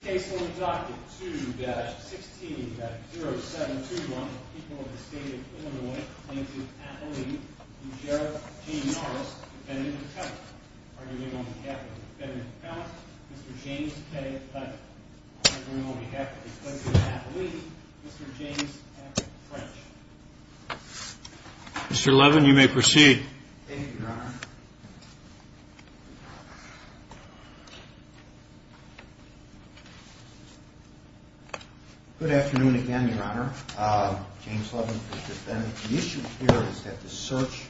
Case will be adopted 2-16-0721, People of the State of Illinois plaintiff Appeline v. Sheriff James Norris, Defendant Appellant. Arguing on behalf of the Defendant Appellant, Mr. James K. Appellant. Arguing on behalf of the plaintiff Appeline, Mr. James F. French. Mr. Levin, you may proceed. Thank you, Your Honor. Good afternoon again, Your Honor. James Levin for the Defendant. The issue here is that the search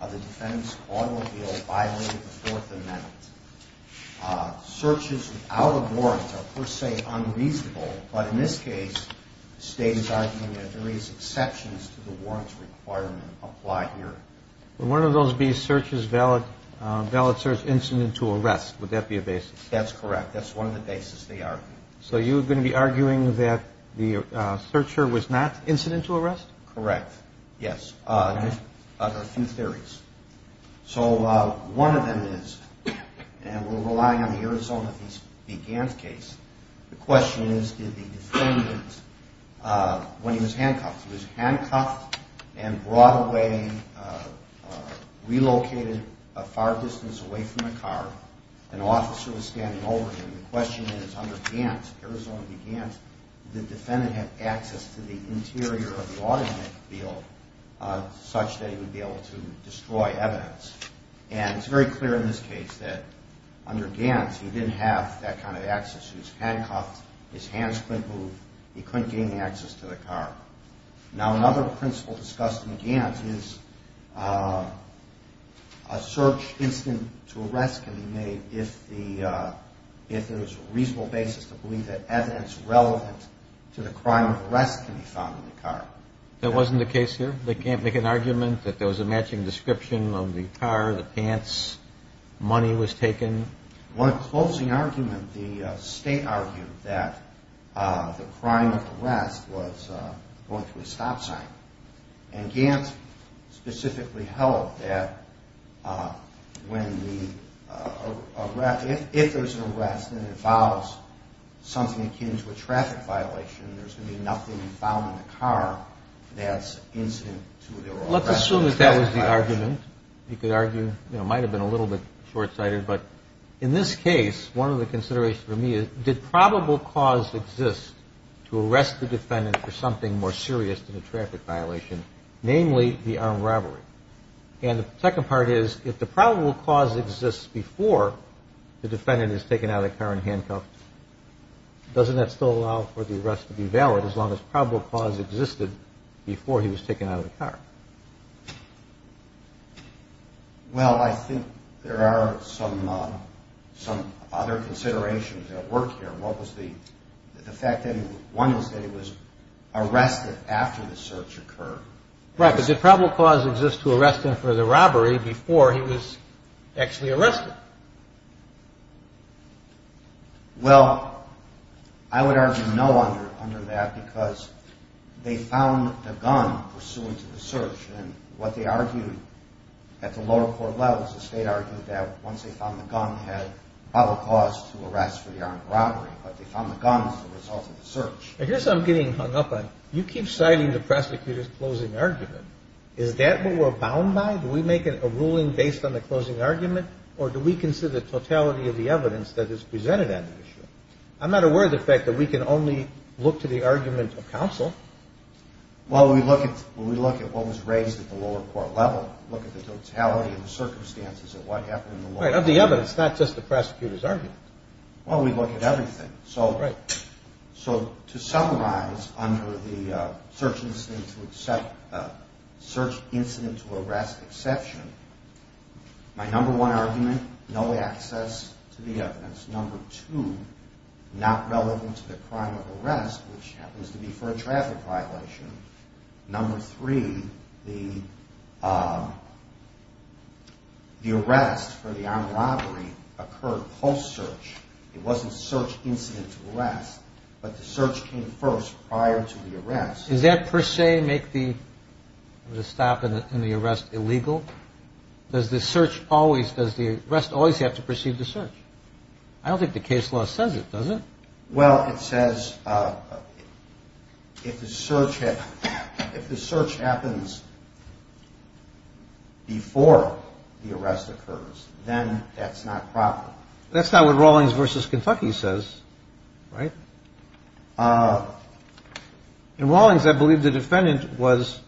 of the Defendant's automobile violated the Fourth Amendment. Searches without a warrant are per se unreasonable, but in this case, the State is arguing that there is exceptions to the warrants requirement applied here. Would one of those be searches valid, valid search incident to arrest, would that be a basis? That's correct, that's one of the basis they argue. So you're going to be arguing that the searcher was not incident to arrest? Correct, yes, just a few theories. So one of them is, and we're relying on the Arizona v. Gants case, the question is did the Defendant, when he was handcuffed, and brought away, relocated a far distance away from the car, an officer was standing over him. The question is under Gants, Arizona v. Gants, did the Defendant have access to the interior of the automobile such that he would be able to destroy evidence? And it's very clear in this case that under Gants, he didn't have that kind of access. He was handcuffed, his hands couldn't move, he couldn't gain access to the car. Now another principle discussed in Gants is a search incident to arrest can be made if there's a reasonable basis to believe that evidence relevant to the crime of arrest can be found in the car. That wasn't the case here? They can't make an argument that there was a matching description of the car, the pants, money was taken? One closing argument, the state argued that the crime of arrest was going through a stop sign. And Gants specifically held that when the arrest, if there's an arrest and it involves something akin to a traffic violation, there's going to be nothing found in the car that's incident to their arrest. Let's assume that that was the argument. You could argue, you know, it might have been a little bit short-sighted, but in this case, one of the considerations for me is did probable cause exist to arrest the Defendant for something more serious than a traffic violation, namely the armed robbery? And the second part is if the probable cause exists before the Defendant is taken out of the car and handcuffed, doesn't that still allow for the arrest to be valid as long as probable cause existed before he was taken out of the car? Well, I think there are some other considerations at work here. One was that he was arrested after the search occurred. Right, but did probable cause exist to arrest him for the robbery before he was actually arrested? Well, I would argue no under that because they found the gun pursuant to the search. And what they argued at the lower court levels is they argued that once they found the gun, they had probable cause to arrest for the armed robbery, but they found the gun as a result of the search. And here's what I'm getting hung up on. You keep citing the prosecutor's closing argument. Is that what we're bound by? Do we make a ruling based on the closing argument, or do we consider the totality of the evidence that is presented at the issue? I'm not aware of the fact that we can only look to the argument of counsel. Well, we look at what was raised at the lower court level, look at the totality of the circumstances of what happened. Right, of the evidence, not just the prosecutor's argument. Well, we look at everything. So to summarize under the search incident to arrest exception, my number one argument, no access to the evidence. Number two, not relevant to the crime of arrest, which happens to be for a traffic violation. Number three, the arrest for the armed robbery occurred post-search. It wasn't search incident to arrest, but the search came first prior to the arrest. Does that per se make the stop in the arrest illegal? Does the search always, does the arrest always have to precede the search? I don't think the case law says it, does it? Well, it says if the search happens before the arrest occurs, then that's not proper. That's not what Rawlings v. Kentucky says, right? In Rawlings, I believe the defendant was,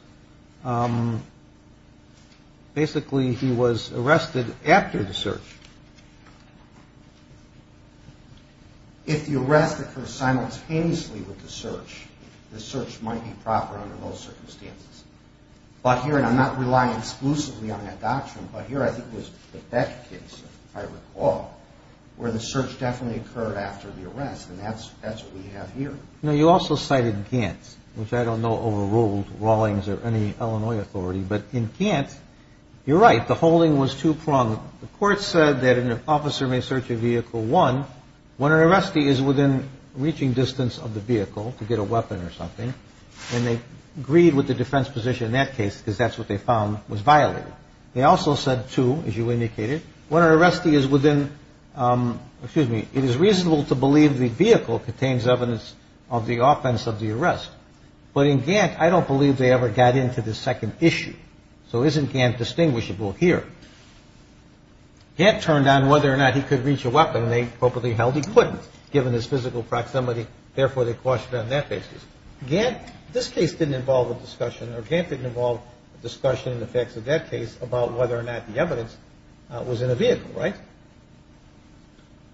basically he was arrested after the search. If the arrest occurs simultaneously with the search, the search might be proper under those circumstances. But here, and I'm not relying exclusively on that doctrine, but here I think it was the Beck case, if I recall, where the search definitely occurred after the arrest, and that's what we have here. Now, you also cited Gantt, which I don't know overruled Rawlings or any Illinois authority, but in Gantt, you're right, the holding was two-pronged. The court said that an officer may search a vehicle, one, when an arrestee is within reaching distance of the vehicle to get a weapon or something, and they agreed with the defense position in that case because that's what they found was violated. They also said, two, as you indicated, when an arrestee is within, excuse me, it is reasonable to believe the vehicle contains evidence of the offense of the arrest. But in Gantt, I don't believe they ever got into the second issue. So isn't Gantt distinguishable here? Gantt turned on whether or not he could reach a weapon. He couldn't, given his physical proximity. Therefore, they questioned it on that basis. Gantt, this case didn't involve a discussion, or Gantt didn't involve a discussion in the facts of that case about whether or not the evidence was in a vehicle, right?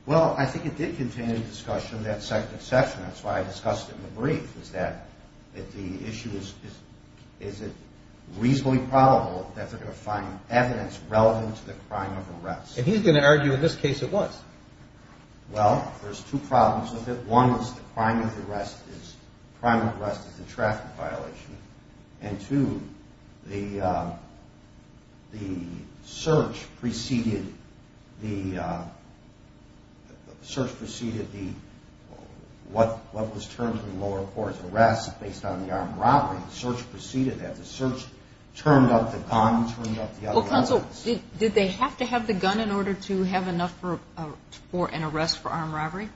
Well, I think it did contain a discussion of that second section. That's why I discussed it in the brief, is that the issue is, is it reasonably probable that they're going to find evidence relevant to the crime of arrest? And he's going to argue, in this case, it was. Well, there's two problems with it. One is the crime of arrest is the traffic violation. And two, the search preceded the, what was termed in the lower court as arrest, based on the armed robbery. The search proceeded that. The search turned up the gun, turned up the other weapons. Counsel, did they have to have the gun in order to have enough for an arrest for armed robbery?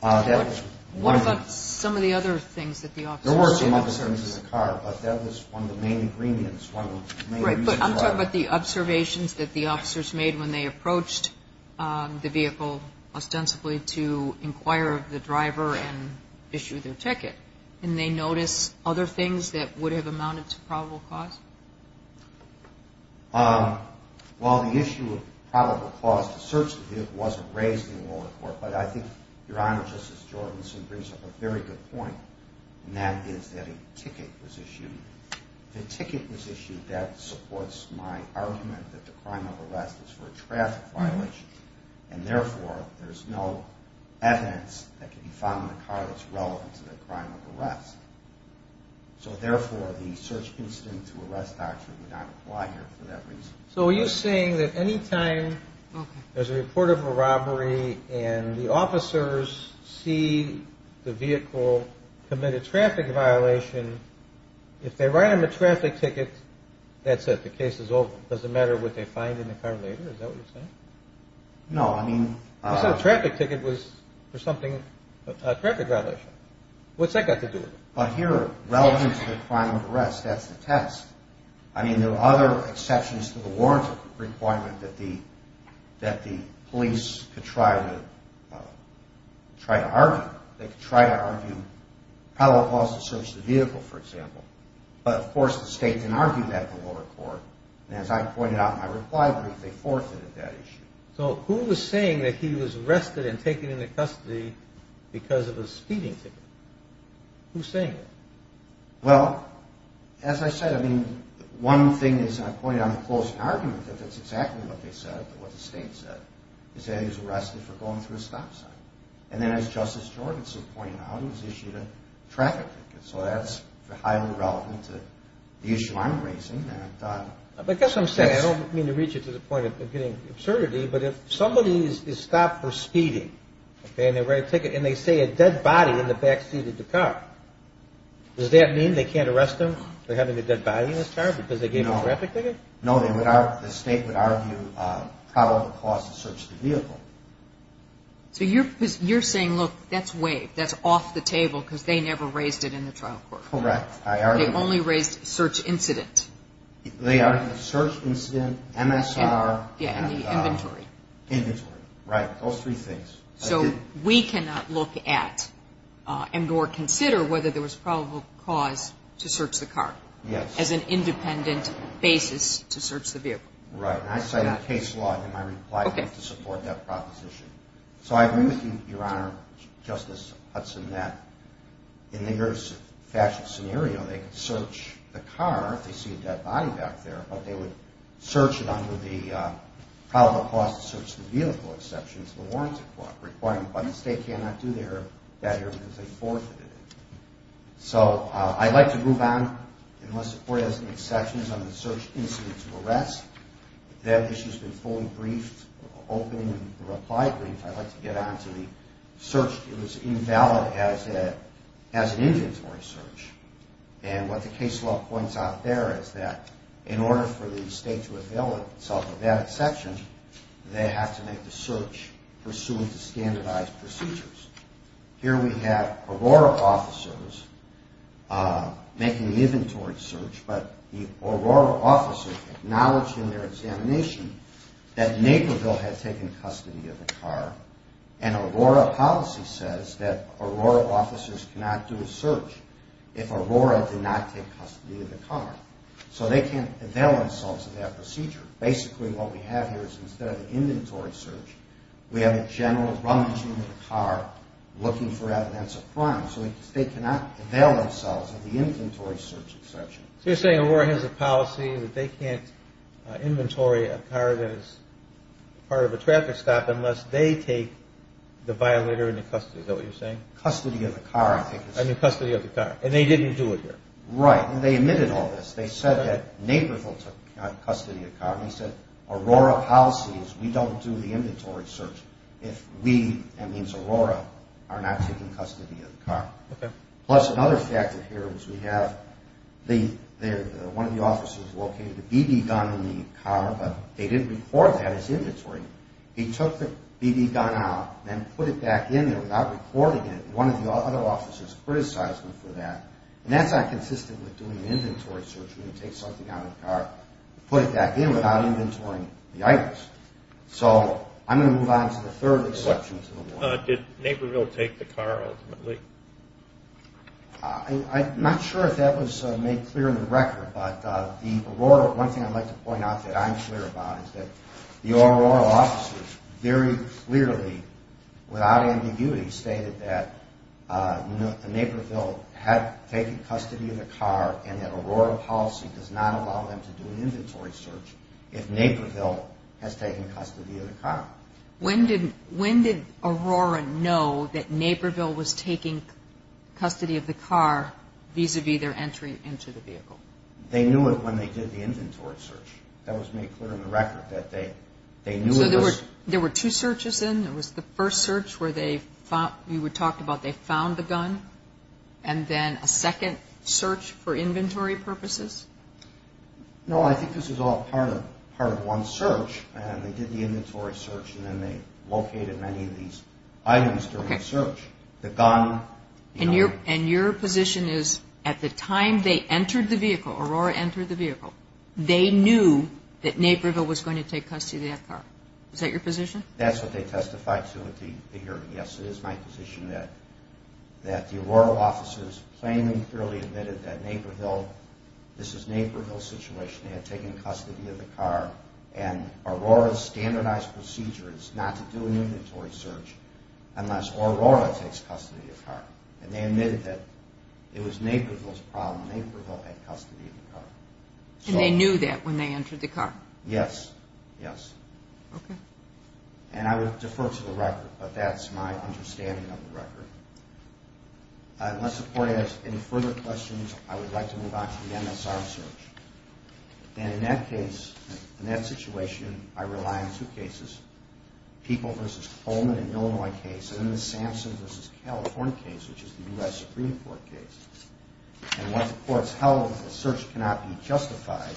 What about some of the other things that the officers did? There were some other things with the car, but that was one of the main agreements, one of the main reasons why. Right, but I'm talking about the observations that the officers made when they approached the vehicle ostensibly to inquire of the driver and issue their ticket. And they notice other things that would have amounted to probable cause? Well, the issue of probable cause to search the vehicle wasn't raised in the lower court, but I think Your Honor, Justice Jordanson brings up a very good point, and that is that a ticket was issued. If a ticket was issued, that supports my argument that the crime of arrest is for a traffic violation, and therefore, there's no evidence that can be found in the car that's relevant to the crime of arrest. So therefore, the search incident to arrest doctrine would not apply here for that reason. So are you saying that any time there's a report of a robbery and the officers see the vehicle commit a traffic violation, if they write him a traffic ticket, that's it, the case is over. Does it matter what they find in the car later? Is that what you're saying? No, I mean... You said a traffic ticket was for something, a traffic violation. What's that got to do with it? But here, relevant to the crime of arrest, that's the test. I mean, there are other exceptions to the warrant requirement that the police could try to argue. They could try to argue probable cause to search the vehicle, for example. But of course, the state can argue that in the lower court. And as I pointed out in my reply brief, they forfeited that issue. So who was saying that he was arrested and taken into custody because of a speeding ticket? Who's saying that? Well, as I said, I mean, one thing is I pointed out in the closing argument that that's exactly what they said, what the state said, is that he was arrested for going through a stop sign. And then as Justice Jorgensen pointed out, he was issued a traffic ticket. So that's highly relevant to the issue I'm raising. I guess I'm saying, I don't mean to reach you to the point of getting absurdity, but if somebody is stopped for speeding and they write a ticket and they say a dead body in the backseat of the car, does that mean they can't arrest him for having a dead body in his car because they gave him a traffic ticket? No, the state would argue probable cause to search the vehicle. So you're saying, look, that's waived, that's off the table because they never raised it in the trial court. Correct. They only raised search incident. They argued search incident, MSR. Yeah, and the inventory. Inventory, right, those three things. So we cannot look at and or consider whether there was probable cause to search the car. Yes. As an independent basis to search the vehicle. Right, and I cite a case law in my reply to support that proposition. So I agree with you, Your Honor, Justice Hudson, that in the urban fashion scenario they could search the car if they see a dead body back there, but they would search it under the probable cause to search the vehicle exception to the warrants requirement, but the state cannot do that here because they forfeited it. So I'd like to move on. In my support as an exception under the search incident to arrest, that issue has been fully briefed, opened, and replied briefly. I'd like to get on to the search. It was invalid as an inventory search, and what the case law points out there is that in order for the state to avail itself of that exception, they have to make the search pursuant to standardized procedures. Here we have Aurora officers making the inventory search, but the Aurora officer acknowledged in their examination that Naperville had taken custody of the car, and Aurora policy says that Aurora officers cannot do a search if Aurora did not take custody of the car. So they can't avail themselves of that procedure. Basically what we have here is instead of an inventory search, we have a general rummaging of the car looking for evidence of crime. So the state cannot avail themselves of the inventory search exception. So you're saying Aurora has a policy that they can't inventory a car that is part of a traffic stop unless they take the violator into custody. Is that what you're saying? Custody of the car. I mean custody of the car, and they didn't do it here. Right, and they admitted all this. They said that Naperville took custody of the car, and he said Aurora policy is we don't do the inventory search if we, that means Aurora, are not taking custody of the car. Okay. Plus another factor here is we have one of the officers located a BB gun in the car, but they didn't record that as inventory. He took the BB gun out and put it back in there without recording it, and one of the other officers criticized him for that, and that's not consistent with doing an inventory search when you take something out of the car and put it back in without inventorying the items. So I'm going to move on to the third exception to the law. Did Naperville take the car ultimately? I'm not sure if that was made clear in the record, but one thing I'd like to point out that I'm clear about is that the Aurora officers very clearly without ambiguity stated that Naperville had taken custody of the car and that Aurora policy does not allow them to do an inventory search if Naperville has taken custody of the car. When did Aurora know that Naperville was taking custody of the car vis-a-vis their entry into the vehicle? They knew it when they did the inventory search. That was made clear in the record that they knew it was. So there were two searches in. There was the first search where they, you talked about they found the gun, and then a second search for inventory purposes? No, I think this was all part of one search, and they did the inventory search and then they located many of these items during the search, the gun. And your position is at the time they entered the vehicle, Aurora entered the vehicle, they knew that Naperville was going to take custody of that car. Is that your position? That's what they testified to at the hearing. Yes, it is my position that the Aurora officers plainly and clearly admitted that Naperville, this is Naperville's situation, they had taken custody of the car, and Aurora's standardized procedure is not to do an inventory search unless Aurora takes custody of the car. And they admitted that it was Naperville's problem, Naperville had custody of the car. And they knew that when they entered the car? Yes, yes. Okay. And I would defer to the record, but that's my understanding of the record. Unless the court has any further questions, I would like to move on to the MSR search. And in that case, in that situation, I rely on two cases, the People v. Coleman in Illinois case and the Samson v. California case, which is the U.S. Supreme Court case. And what the court's held is the search cannot be justified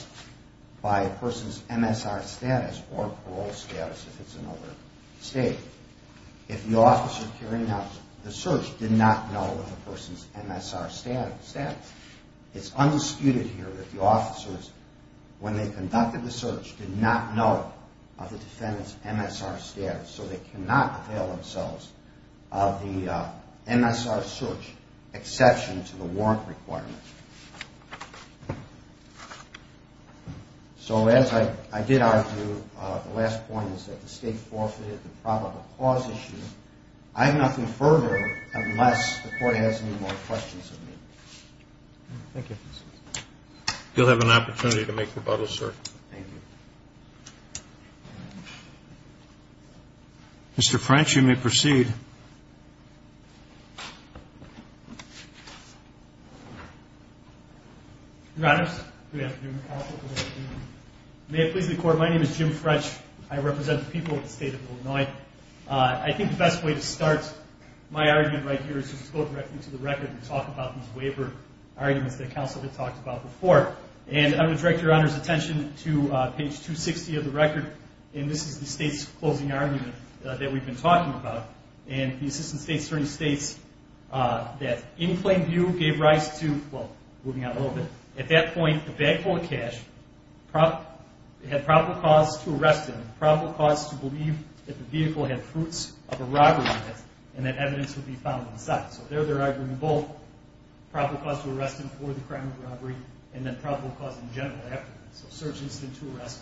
by a person's MSR status or parole status if it's another state. If the officer carrying out the search did not know of the person's MSR status, it's undisputed here that the officers, when they conducted the search, did not know of the defendant's MSR status, so they cannot avail themselves of the MSR search exception to the warrant requirement. So as I did argue, the last point is that the state forfeited the probable cause issue. I have nothing further unless the court has any more questions of me. Thank you. You'll have an opportunity to make rebuttals, sir. Thank you. Mr. French, you may proceed. Your Honors, good afternoon. May it please the Court, my name is Jim French. I represent the people of the state of Illinois. I think the best way to start my argument right here is to just go directly to the record and talk about these waiver arguments that counsel had talked about before. And I'm going to direct Your Honor's attention to page 260 of the record, and this is the state's closing argument that we've been talking about. And the assistant state attorney states that in plain view gave rise to, well, moving on a little bit, at that point the bag full of cash had probable cause to arrest him, probable cause to believe that the vehicle had fruits of a robbery, and that evidence would be found inside. So there they're arguing both probable cause to arrest him for the crime of robbery and then probable cause in general after that. So search incident to arrest,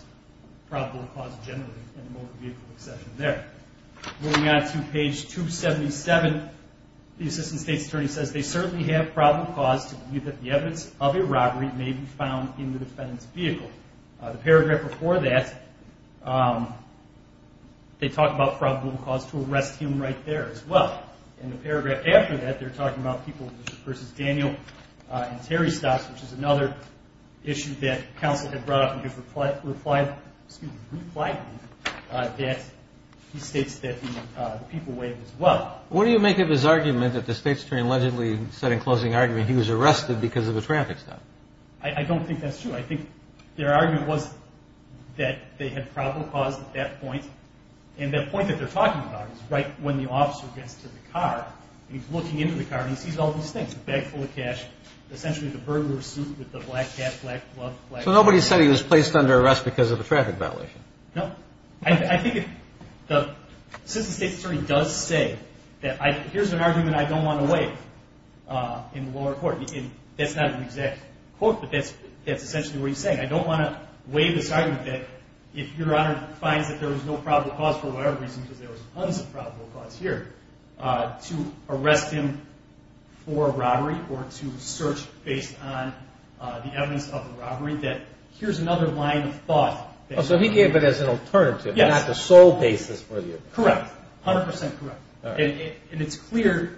probable cause generally in a motor vehicle accession there. Moving on to page 277, the assistant state's attorney says they certainly have probable cause to believe that the evidence of a robbery may be found in the defendant's vehicle. The paragraph before that, they talk about probable cause to arrest him right there as well. In the paragraph after that, they're talking about people versus Daniel and Terry Stocks, which is another issue that counsel had brought up in his reply, excuse me, reply to me, that he states that the people way as well. What do you make of his argument that the state's attorney allegedly said in closing argument he was arrested because of a traffic stop? I don't think that's true. I think their argument was that they had probable cause at that point, and that point that they're talking about is right when the officer gets to the car, and he's looking into the car, and he sees all these things, a bag full of cash, essentially the burglar's suit with the black cap, black gloves. So nobody said he was placed under arrest because of a traffic violation? No. I think the assistant state's attorney does say that here's an argument I don't want to waive in the lower court. That's not an exact quote, but that's essentially what he's saying. I don't want to waive this argument that if your Honor finds that there was no probable cause for whatever reason because there was tons of probable cause here, to arrest him for robbery or to search based on the evidence of the robbery, that here's another line of thought. So he gave it as an alternative, not the sole basis for the argument. Correct, 100 percent correct. And it's clear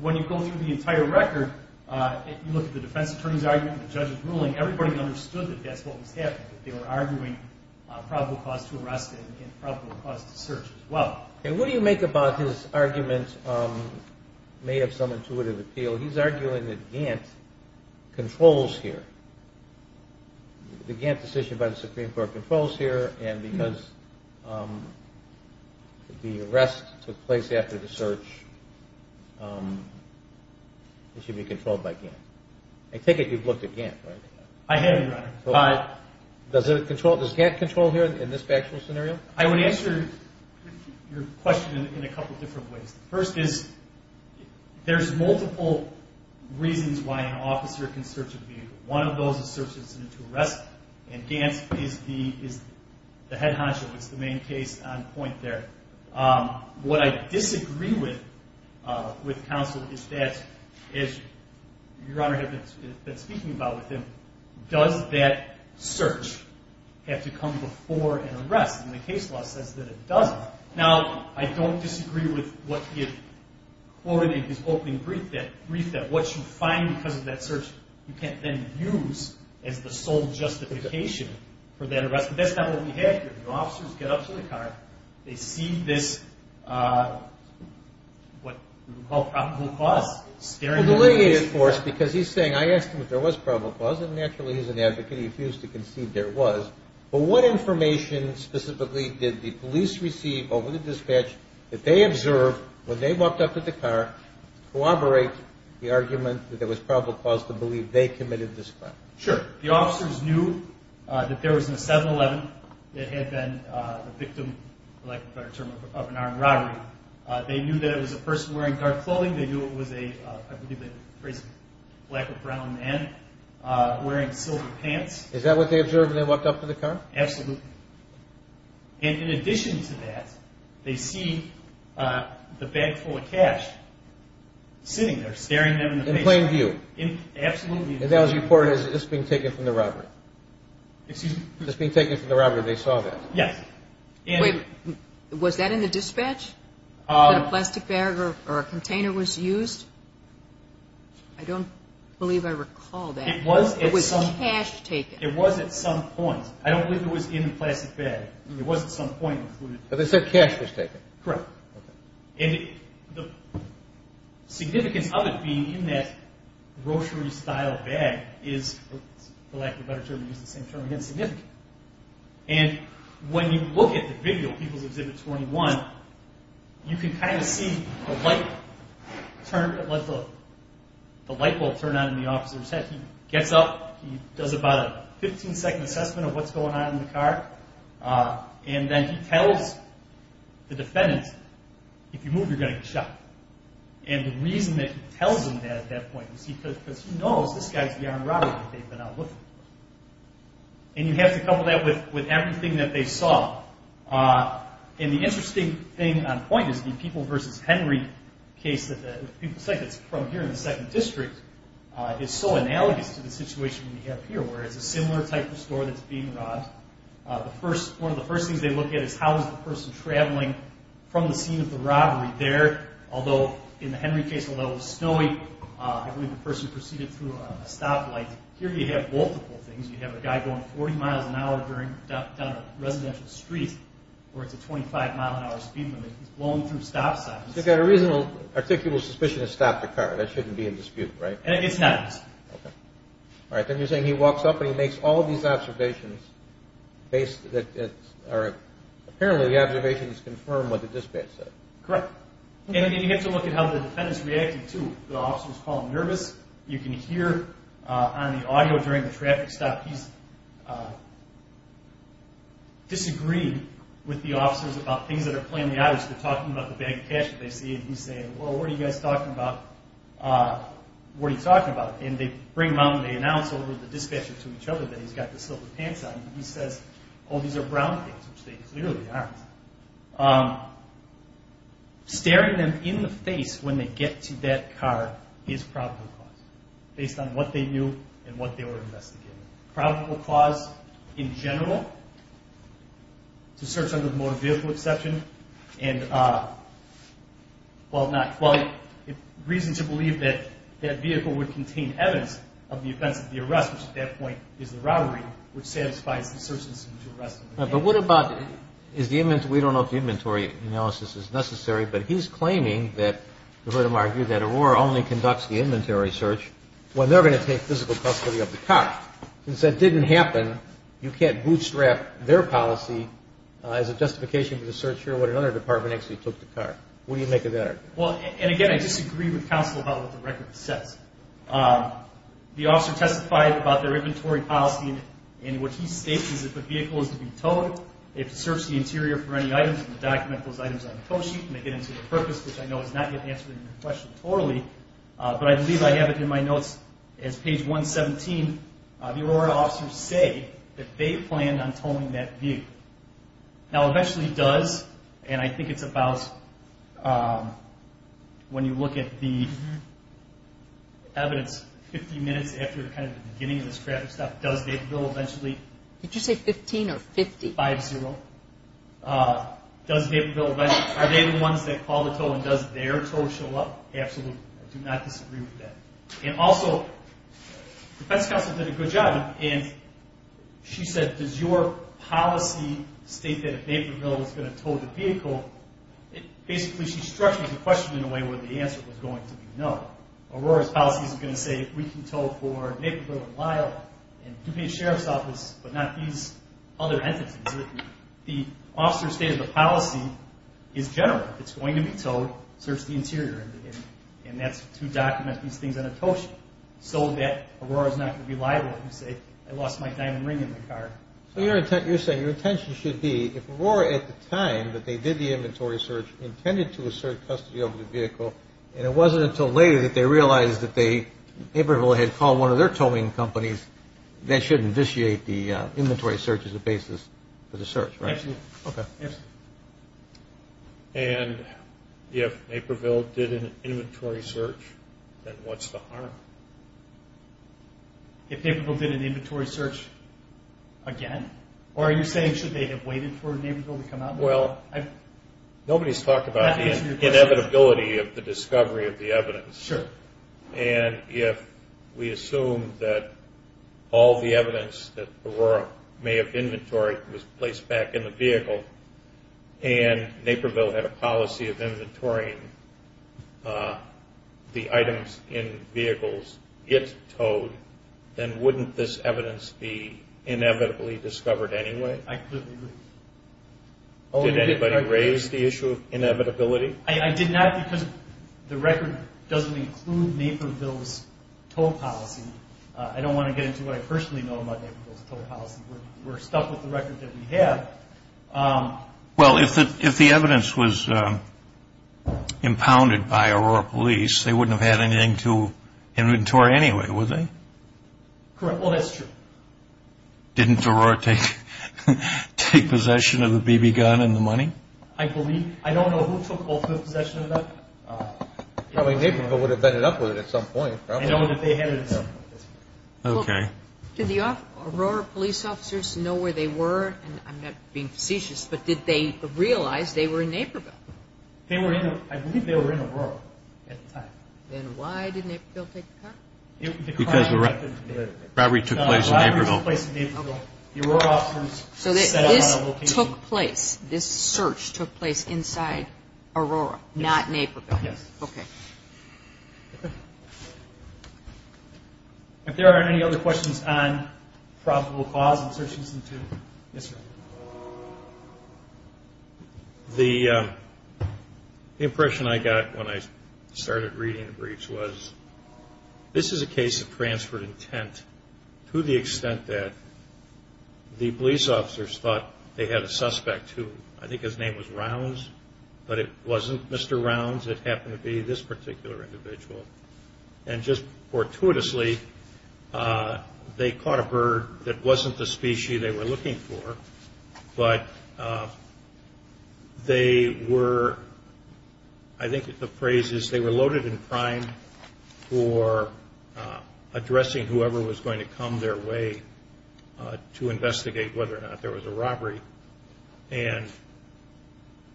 when you go through the entire record, you look at the defense attorney's argument and the judge's ruling, everybody understood that that's what was happening, that they were arguing probable cause to arrest and probable cause to search as well. What do you make about his argument may have some intuitive appeal? He's arguing that Gantt controls here. The Gantt decision by the Supreme Court controls here, and because the arrest took place after the search, it should be controlled by Gantt. I take it you've looked at Gantt, right? I have, Your Honor. Does Gantt control here in this factual scenario? I would answer your question in a couple different ways. First is there's multiple reasons why an officer can search a vehicle. One of those is search incident to arrest, and Gantt is the head honcho. It's the main case on point there. What I disagree with counsel is that, as Your Honor has been speaking about with him, does that search have to come before an arrest? And the case law says that it doesn't. Now, I don't disagree with what he quoted in his opening brief, that what you find because of that search you can't then use as the sole justification for that arrest. But that's not what we have here. The officers get up to the car. They see this what we call probable cause. Well, delineate it for us because he's saying I asked him if there was probable cause, and naturally he's an advocate. He refused to concede there was. But what information specifically did the police receive over the dispatch that they observed when they walked up to the car to corroborate the argument that there was probable cause to believe they committed this crime? Sure. The officers knew that there was a 7-11 that had been the victim, for lack of a better term, of an armed robbery. They knew that it was a person wearing dark clothing. They knew it was a black or brown man wearing silver pants. Is that what they observed when they walked up to the car? Absolutely. And in addition to that, they see the bag full of cash sitting there staring them in the face. In plain view? Absolutely. And that was reported as just being taken from the robbery. Excuse me? Just being taken from the robbery. They saw that. Yes. Wait, was that in the dispatch that a plastic bag or a container was used? I don't believe I recall that. It was at some point. It was cash taken. It was at some point. I don't believe it was in the plastic bag. It was at some point included. But they said cash was taken. Correct. Okay. And the significance of it being in that grocery-style bag is, for lack of a better term to use the same term again, significant. And when you look at the video, People's Exhibit 21, you can kind of see the light bulb turn on in the officer's head. He gets up. He does about a 15-second assessment of what's going on in the car. And then he tells the defendant, if you move, you're going to get shot. And the reason that he tells him that at that point is because he knows this guy's the armed robber that they've been out looking for. And you have to couple that with everything that they saw. And the interesting thing on point is the People v. Henry case that people say that's from here in the 2nd District is so analogous to the situation we have here, where it's a similar type of store that's being robbed. One of the first things they look at is how is the person traveling from the scene of the robbery there. Although in the Henry case, although it was snowy, I believe the person proceeded through a stoplight. Here you have multiple things. You have a guy going 40 miles an hour down a residential street where it's a 25-mile-an-hour speed limit. He's blowing through stop signs. So you've got a reasonable, articulable suspicion to stop the car. That shouldn't be in dispute, right? It's not. Okay. All right. Then you're saying he walks up and he makes all these observations. Apparently the observations confirm what the dispatch said. Correct. And you have to look at how the defendants reacted, too. The officer was calm and nervous. You can hear on the audio during the traffic stop, he's disagreed with the officers about things that are playing in the audience. They're talking about the bag of cash that they see, and he's saying, well, what are you guys talking about? What are you talking about? And they announce over the dispatcher to each other that he's got the silver pants on, and he says, oh, these are brown things, which they clearly aren't. Staring them in the face when they get to that car is probable cause, based on what they knew and what they were investigating. Probable cause, in general, to search under the motor vehicle exception, and, well, reason to believe that that vehicle would contain evidence of the offense of the arrest, which at that point is the robbery, which satisfies the search decision to arrest him. But what about, we don't know if the inventory analysis is necessary, but he's claiming that, you heard him argue, that Aurora only conducts the inventory search when they're going to take physical custody of the car. Since that didn't happen, you can't bootstrap their policy as a justification for the search here when another department actually took the car. What do you make of that argument? Well, and again, I disagree with counsel about what the record says. The officer testified about their inventory policy, and what he states is if a vehicle is to be towed, they have to search the interior for any items and document those items on the tow sheet, and they get into the purpose, which I know is not yet answered in your question totally, but I believe I have it in my notes as page 117. The Aurora officers say that they planned on towing that vehicle. Now, eventually does, and I think it's about when you look at the evidence, 50 minutes after kind of the beginning of this graphic stuff, does Daperville eventually? Did you say 15 or 50? Five-zero. Does Daperville eventually, are they the ones that call the tow and does their tow show up? Absolutely. I do not disagree with that. And also, defense counsel did a good job, and she said, does your policy state that if Daperville is going to tow the vehicle, basically she structured the question in a way where the answer was going to be no. Aurora's policy is going to say we can tow for Daperville and Lyle and DuPage Sheriff's Office, but not these other entities. The officer stated the policy is general. If it's going to be towed, search the interior, and that's to document these things on a tow sheet so that Aurora's not going to be liable if you say I lost my diamond ring in the car. So you're saying your intention should be if Aurora at the time that they did the inventory search intended to assert custody of the vehicle, and it wasn't until later that they realized that they, Daperville had called one of their towing companies, that should initiate the inventory search as a basis for the search, right? Absolutely. Okay. And if Daperville did an inventory search, then what's the harm? If Daperville did an inventory search again? Or are you saying should they have waited for Daperville to come out? Well, nobody's talked about the inevitability of the discovery of the evidence. Sure. And if we assume that all the evidence that Aurora may have inventoried was placed back in the vehicle, and Daperville had a policy of inventorying the items in vehicles it towed, then wouldn't this evidence be inevitably discovered anyway? I completely agree. Did anybody raise the issue of inevitability? I did not because the record doesn't include Daperville's tow policy. I don't want to get into what I personally know about Daperville's tow policy. We're stuck with the record that we have. Well, if the evidence was impounded by Aurora Police, they wouldn't have had anything to inventory anyway, would they? Correct. Well, that's true. Didn't Aurora take possession of the BB gun and the money? I believe. I don't know who took ultimate possession of that. Probably Daperville would have ended up with it at some point. I know that they had it at some point. Okay. Did the Aurora Police officers know where they were? And I'm not being facetious, but did they realize they were in Daperville? I believe they were in Aurora at the time. Then why did Daperville take the power? Because the robbery took place in Daperville. The robbery took place in Daperville. So this took place, this search took place inside Aurora, not Naperville. Yes. Okay. If there aren't any other questions on probable cause of search incident two. Yes, sir. The impression I got when I started reading the briefs was this is a case of transferred intent to the extent that the police officers thought they had a suspect who I think his name was Rounds, but it wasn't Mr. Rounds. It happened to be this particular individual. And just fortuitously, they caught a bird that wasn't the species they were looking for, but they were, I think the phrase is, they were loaded in crime for addressing whoever was going to come their way to investigate whether or not there was a robbery. And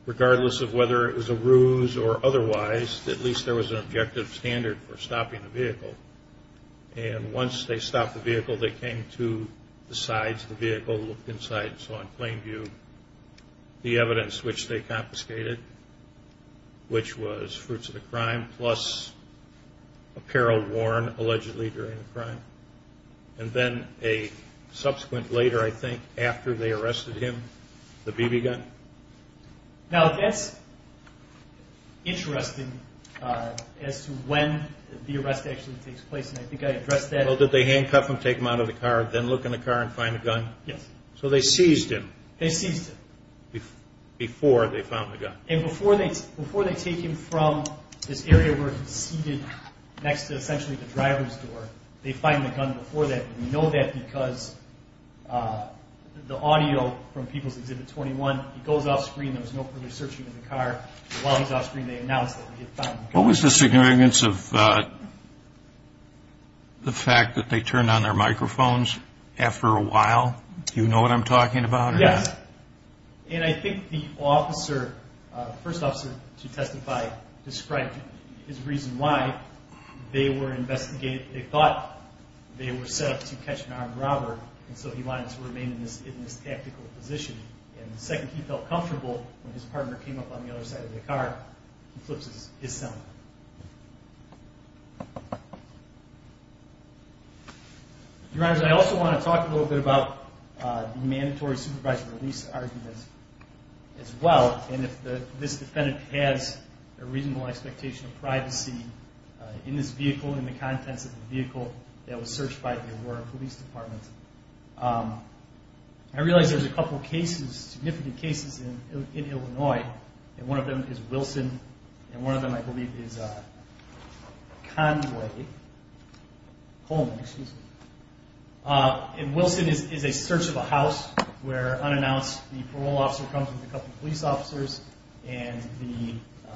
regardless of whether it was a ruse or otherwise, at least there was an objective standard for stopping the vehicle. And once they stopped the vehicle, they came to the sides of the vehicle, looked inside and saw in plain view the evidence which they confiscated, which was fruits of the crime, plus apparel worn allegedly during the crime. And then a subsequent later, I think, after they arrested him, the BB gun. Now, that's interesting as to when the arrest actually takes place, and I think I addressed that. Well, did they handcuff him, take him out of the car, then look in the car and find the gun? Yes. So they seized him. They seized him. Before they found the gun. And before they take him from this area where he's seated next to, essentially, the driver's door, they find the gun before that. And we know that because the audio from People's Exhibit 21, he goes off screen, there's no further searching of the car. While he's off screen, they announce that they have found the gun. What was the significance of the fact that they turned on their microphones after a while? Do you know what I'm talking about? Yes. And I think the officer, the first officer to testify, described his reason why they were investigating. They thought they were set up to catch an armed robber, and so he wanted to remain in this tactical position. And the second he felt comfortable, when his partner came up on the other side of the car, he flips his cell phone. Your Honor, I also want to talk a little bit about the mandatory supervisor release argument as well, and if this defendant has a reasonable expectation of privacy in this vehicle, in the contents of the vehicle that was searched by the Aurora Police Department. I realize there's a couple cases, significant cases in Illinois, and one of them is Wilson, and one of them I believe is Conway, Coleman, excuse me. And Wilson is a search of a house where unannounced, the parole officer comes with a couple of police officers, and the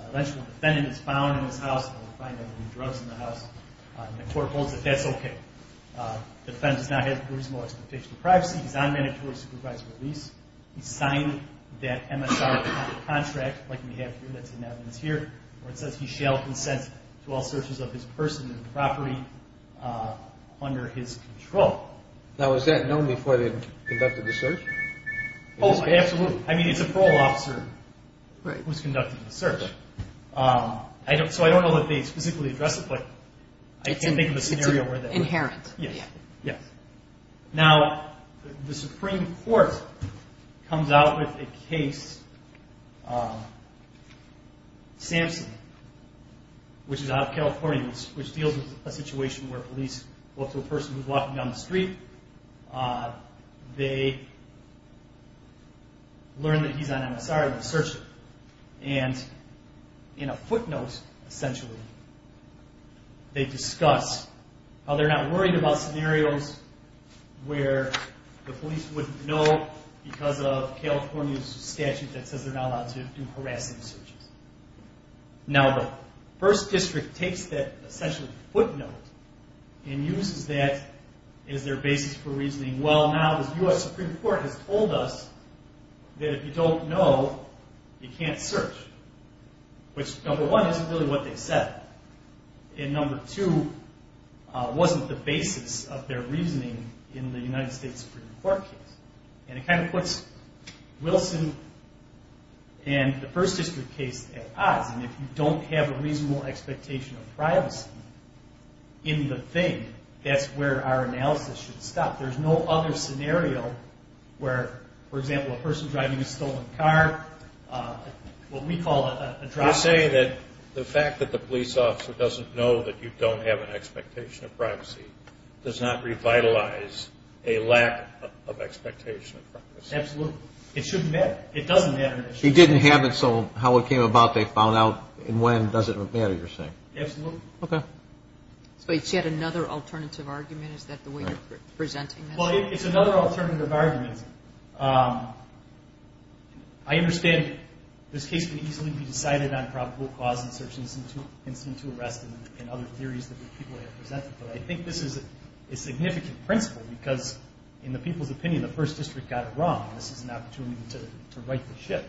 eventual defendant is found in this house, and we find that there were drugs in the house, and the court holds that that's okay. The defendant does not have a reasonable expectation of privacy. He's on mandatory supervisor release. He signed that MSR contract like we have here, that's in evidence here, where it says he shall consent to all searches of his person and property under his control. Now, is that known before they conducted the search? Oh, absolutely. I mean, it's a parole officer who's conducted the search. So I don't know that they specifically addressed it, but I can think of a scenario where that would be. It's inherent. Yes. Now, the Supreme Court comes out with a case, Samson, which is out of California, which deals with a situation where police go up to a person who's walking down the street. They learn that he's on MSR, and they search him. And in a footnote, essentially, they discuss how they're not worried about scenarios, where the police wouldn't know because of California's statute that says they're not allowed to do harassing searches. Now, the first district takes that, essentially, footnote and uses that as their basis for reasoning, well, now the U.S. Supreme Court has told us that if you don't know, you can't search, which, number one, isn't really what they said. And, number two, wasn't the basis of their reasoning in the United States Supreme Court case. And it kind of puts Wilson and the first district case at odds. And if you don't have a reasonable expectation of privacy in the thing, that's where our analysis should stop. There's no other scenario where, for example, a person driving a stolen car, what we call a drive-by. So you're saying that the fact that the police officer doesn't know that you don't have an expectation of privacy does not revitalize a lack of expectation of privacy. Absolutely. It shouldn't matter. It doesn't matter. He didn't have it, so how it came about, they found out, and when doesn't matter, you're saying. Absolutely. Okay. So it's yet another alternative argument? Is that the way you're presenting this? Well, it's another alternative argument. I understand this case can easily be decided on probable cause in search and incident to arrest and other theories that people have presented, but I think this is a significant principle because, in the people's opinion, the first district got it wrong. This is an opportunity to right the ship.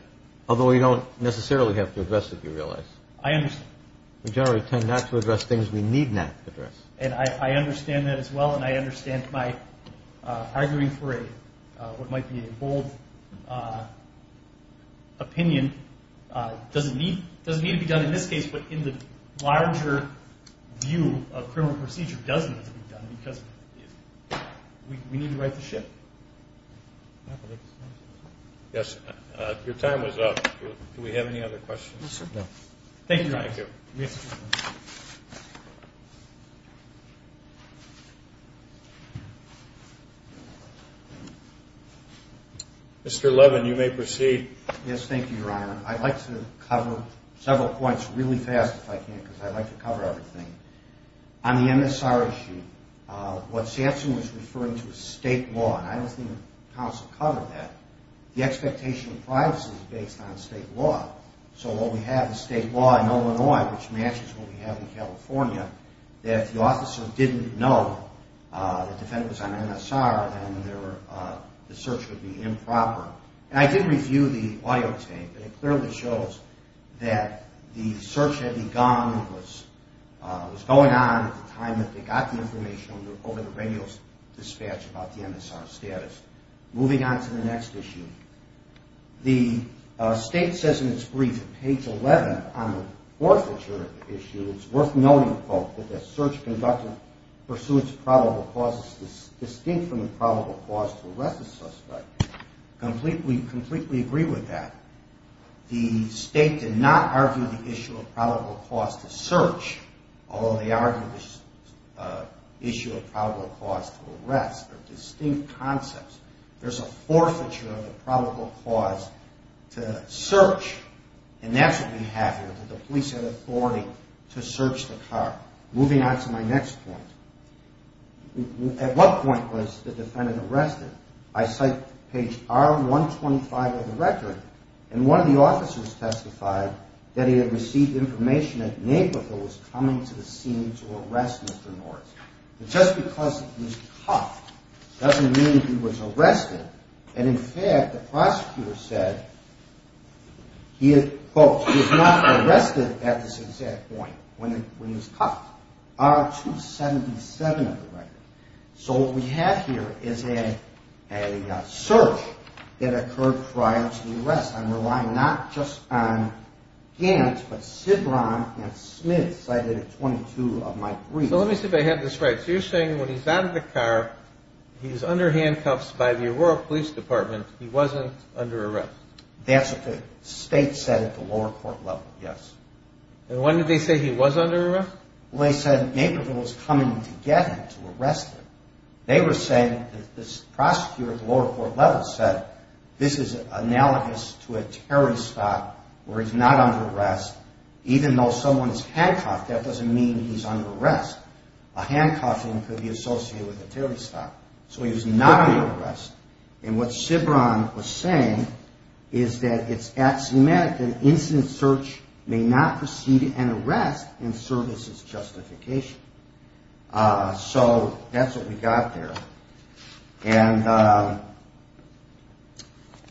Although we don't necessarily have to address it, you realize. I understand. We generally tend not to address things we need not address. And I understand that as well, and I understand my arguing for what might be a bold opinion doesn't need to be done in this case, but in the larger view of criminal procedure doesn't need to be done because we need to right the ship. Yes. Your time is up. Do we have any other questions? Thank you. Mr. Levin, you may proceed. Yes, thank you, Your Honor. I'd like to cover several points really fast if I can because I'd like to cover everything. On the MSRA sheet, what Sampson was referring to is state law, and I don't think the counsel covered that. The expectation of privacy is based on state law, so what we have is state law in Illinois, which matches what we have in California, that if the officer didn't know the defendant was on MSRA, then the search would be improper. And I did review the audio tape, and it clearly shows that the search had begun and was going on at the time that they got the information over the radio dispatch about the MSRA status. Moving on to the next issue. The state says in its brief on page 11 on the forfeiture issue, it's worth noting, quote, that the search conductor pursuits probable causes distinct from the probable cause to arrest the suspect. I completely agree with that. The state did not argue the issue of probable cause to search, although they argued the issue of probable cause to arrest are distinct concepts. There's a forfeiture of a probable cause to search, and that's what we have here, that the police have authority to search the car. Moving on to my next point. At what point was the defendant arrested? I cite page R125 of the record, and one of the officers testified that he had received information that Naperville was coming to the scene to arrest Mr. Norris. Just because he was cuffed doesn't mean he was arrested, and, in fact, the prosecutor said, quote, he was not arrested at this exact point when he was cuffed. R277 of the record. So what we have here is a search that occurred prior to the arrest. I'm relying not just on Gant, but Cidron and Smith cited at 22 of my briefs. So let me see if I have this right. So you're saying when he's out of the car, he's under handcuffs by the Aurora Police Department, he wasn't under arrest. That's what the state said at the lower court level, yes. And when did they say he was under arrest? Well, they said Naperville was coming to get him, to arrest him. They were saying that the prosecutor at the lower court level said this is analogous to a terrorist spot where he's not under arrest. Even though someone is handcuffed, that doesn't mean he's under arrest. A handcuffing could be associated with a terrorist spot. So he was not under arrest. And what Cidron was saying is that it's axiomatic that an incident search may not precede an arrest in services justification. So that's what we got there. And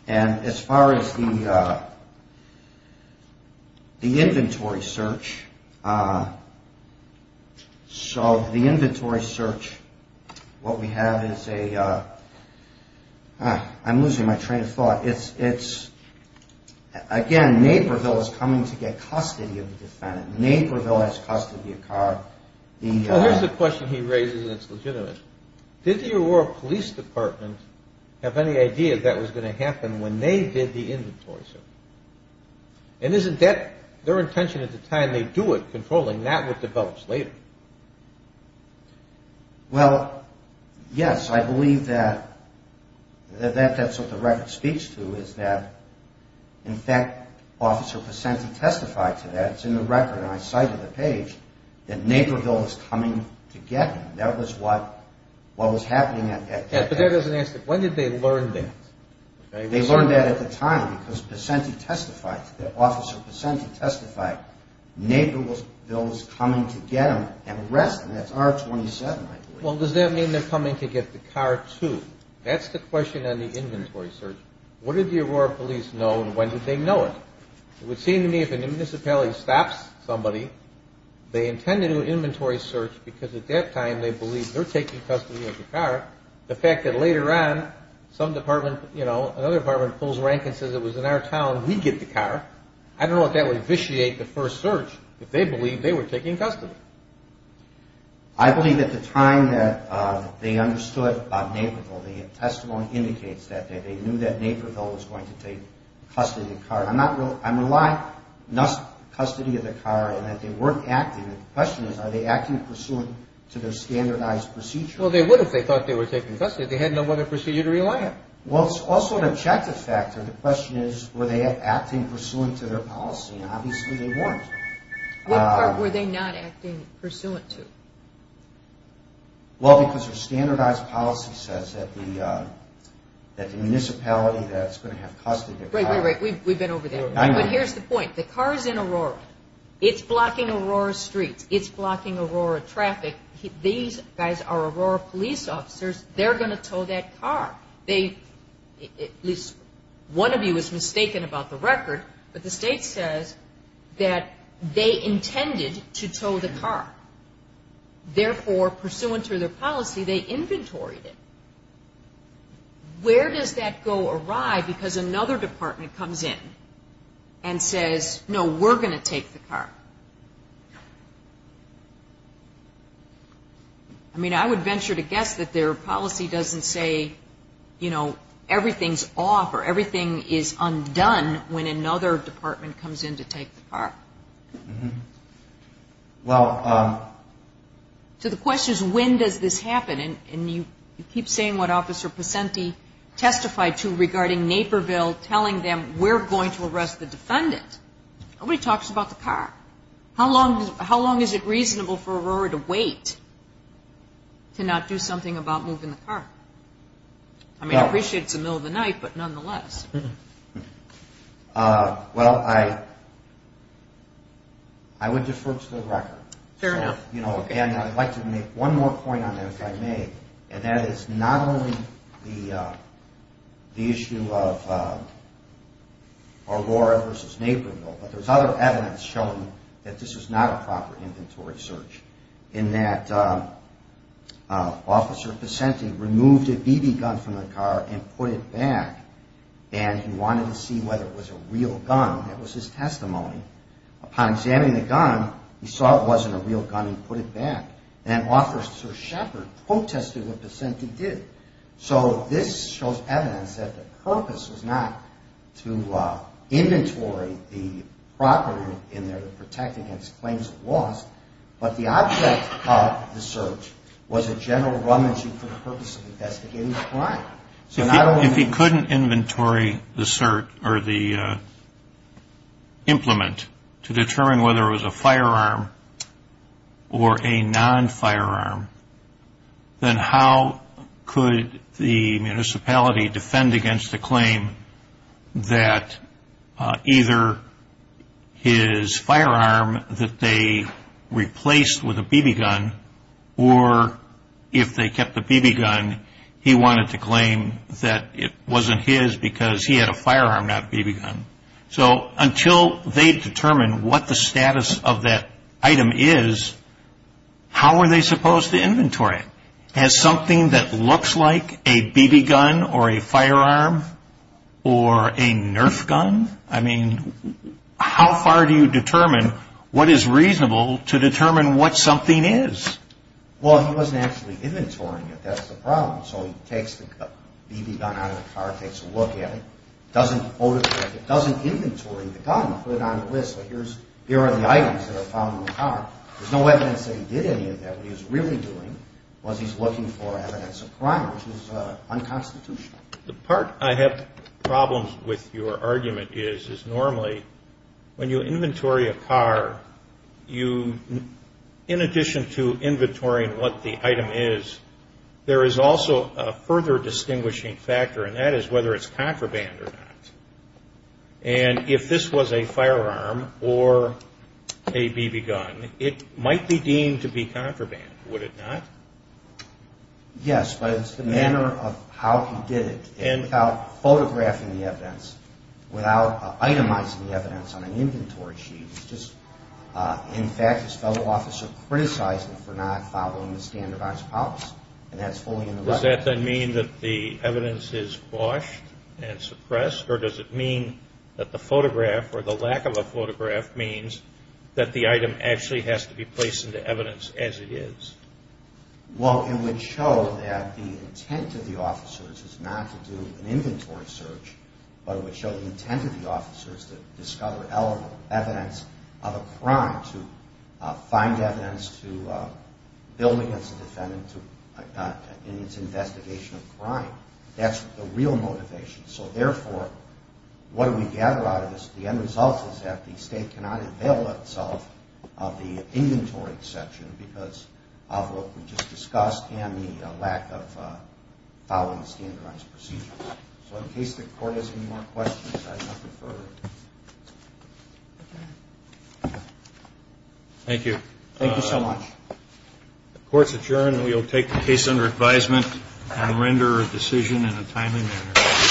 as far as the inventory search, so the inventory search, what we have is a, I'm losing my train of thought. It's, again, Naperville is coming to get custody of the defendant. Naperville has custody of Carr. Well, here's the question he raises that's legitimate. Did the Aurora Police Department have any idea that was going to happen when they did the inventory search? And isn't that their intention at the time? They do it, controlling. That's what develops later. Well, yes, I believe that that's what the record speaks to, is that, in fact, Officer Picenti testified to that. It's in the record, and I cited the page, that Naperville is coming to get him. That was what was happening at that time. But that doesn't answer it. When did they learn that? They learned that at the time because Picenti testified, Officer Picenti testified Naperville was coming to get him and arrest him. That's R-27, I believe. Well, does that mean they're coming to get the Carr, too? That's the question on the inventory search. What did the Aurora Police know, and when did they know it? It would seem to me if a municipality stops somebody, they intend to do an inventory search because, at that time, they believe they're taking custody of the Carr. The fact that later on some department, you know, another department pulls rank and says it was in our town, we get the Carr. I don't know if that would vitiate the first search if they believed they were taking custody. I believe at the time that they understood about Naperville, the testimony indicates that they knew that Naperville was going to take custody of the Carr. I'm relying thus on custody of the Carr and that they weren't acting. The question is are they acting pursuant to their standardized procedure? Well, they would if they thought they were taking custody. They had no other procedure to rely on. Well, it's also an objective factor. The question is were they acting pursuant to their policy, and obviously they weren't. What part were they not acting pursuant to? Well, because their standardized policy says that the municipality that's going to have custody of the Carr. Wait, wait, wait. We've been over there. But here's the point. The Carr is in Aurora. It's blocking Aurora streets. It's blocking Aurora traffic. These guys are Aurora police officers. They're going to tow that Carr. At least one of you is mistaken about the record, but the state says that they intended to tow the Carr. Therefore, pursuant to their policy, they inventoried it. Where does that go awry because another department comes in and says, no, we're going to take the Carr? I mean, I would venture to guess that their policy doesn't say, you know, everything's off or everything is undone when another department comes in to take the Carr. Well. So the question is, when does this happen? And you keep saying what Officer Pacente testified to regarding Naperville, telling them we're going to arrest the defendant. Nobody talks about the Carr. How long is it reasonable for Aurora to wait to not do something about moving the Carr? I mean, I appreciate it's the middle of the night, but nonetheless. Well, I would defer to the record. Fair enough. And I'd like to make one more point on that, if I may, and that is not only the issue of Aurora versus Naperville, but there's other evidence showing that this is not a proper inventory search, in that Officer Pacente removed a BB gun from the Carr and put it back, and he wanted to see whether it was a real gun. That was his testimony. Upon examining the gun, he saw it wasn't a real gun and put it back. And Officer Shepard protested what Pacente did. So this shows evidence that the purpose was not to inventory the property in there to protect against claims of loss, but the object of the search was a general rummaging for the purpose of investigating the crime. If he couldn't inventory the implement to determine whether it was a firearm or a non-firearm, then how could the municipality defend against the claim that either his firearm that they replaced with a BB gun, or if they kept the BB gun, he wanted to claim that it wasn't his because he had a firearm, not a BB gun. So until they determine what the status of that item is, how are they supposed to inventory it? Has something that looks like a BB gun or a firearm or a Nerf gun? I mean, how far do you determine what is reasonable to determine what something is? Well, he wasn't actually inventorying it. That's the problem. So he takes the BB gun out of the Carr, takes a look at it, doesn't photograph it, doesn't inventory the gun, put it on a list. Here are the items that are found in the Carr. There's no evidence that he did any of that. What he was really doing was he's looking for evidence of crime, which is unconstitutional. The part I have problems with your argument is, is normally when you inventory a Carr, in addition to inventorying what the item is, there is also a further distinguishing factor, and that is whether it's contraband or not. And if this was a firearm or a BB gun, it might be deemed to be contraband. Would it not? Yes, but it's the manner of how he did it. And without photographing the evidence, without itemizing the evidence on an inventory sheet, just, in fact, his fellow officer criticized him for not following the standardized policy. And that's fully in the record. Does that then mean that the evidence is washed and suppressed, or does it mean that the photograph, or the lack of a photograph, means that the item actually has to be placed into evidence as it is? Well, it would show that the intent of the officers is not to do an inventory search, but it would show the intent of the officers to discover evidence of a crime, to find evidence, to build against the defendant in its investigation of crime. That's the real motivation. So, therefore, what do we gather out of this? The end result is that the State cannot avail itself of the inventory exception because of what we just discussed and the lack of following standardized procedures. So, in case the Court has any more questions, I'd like to defer. Thank you. Thank you so much. The Court's adjourned. We will take the case under advisement and render a decision in a timely manner.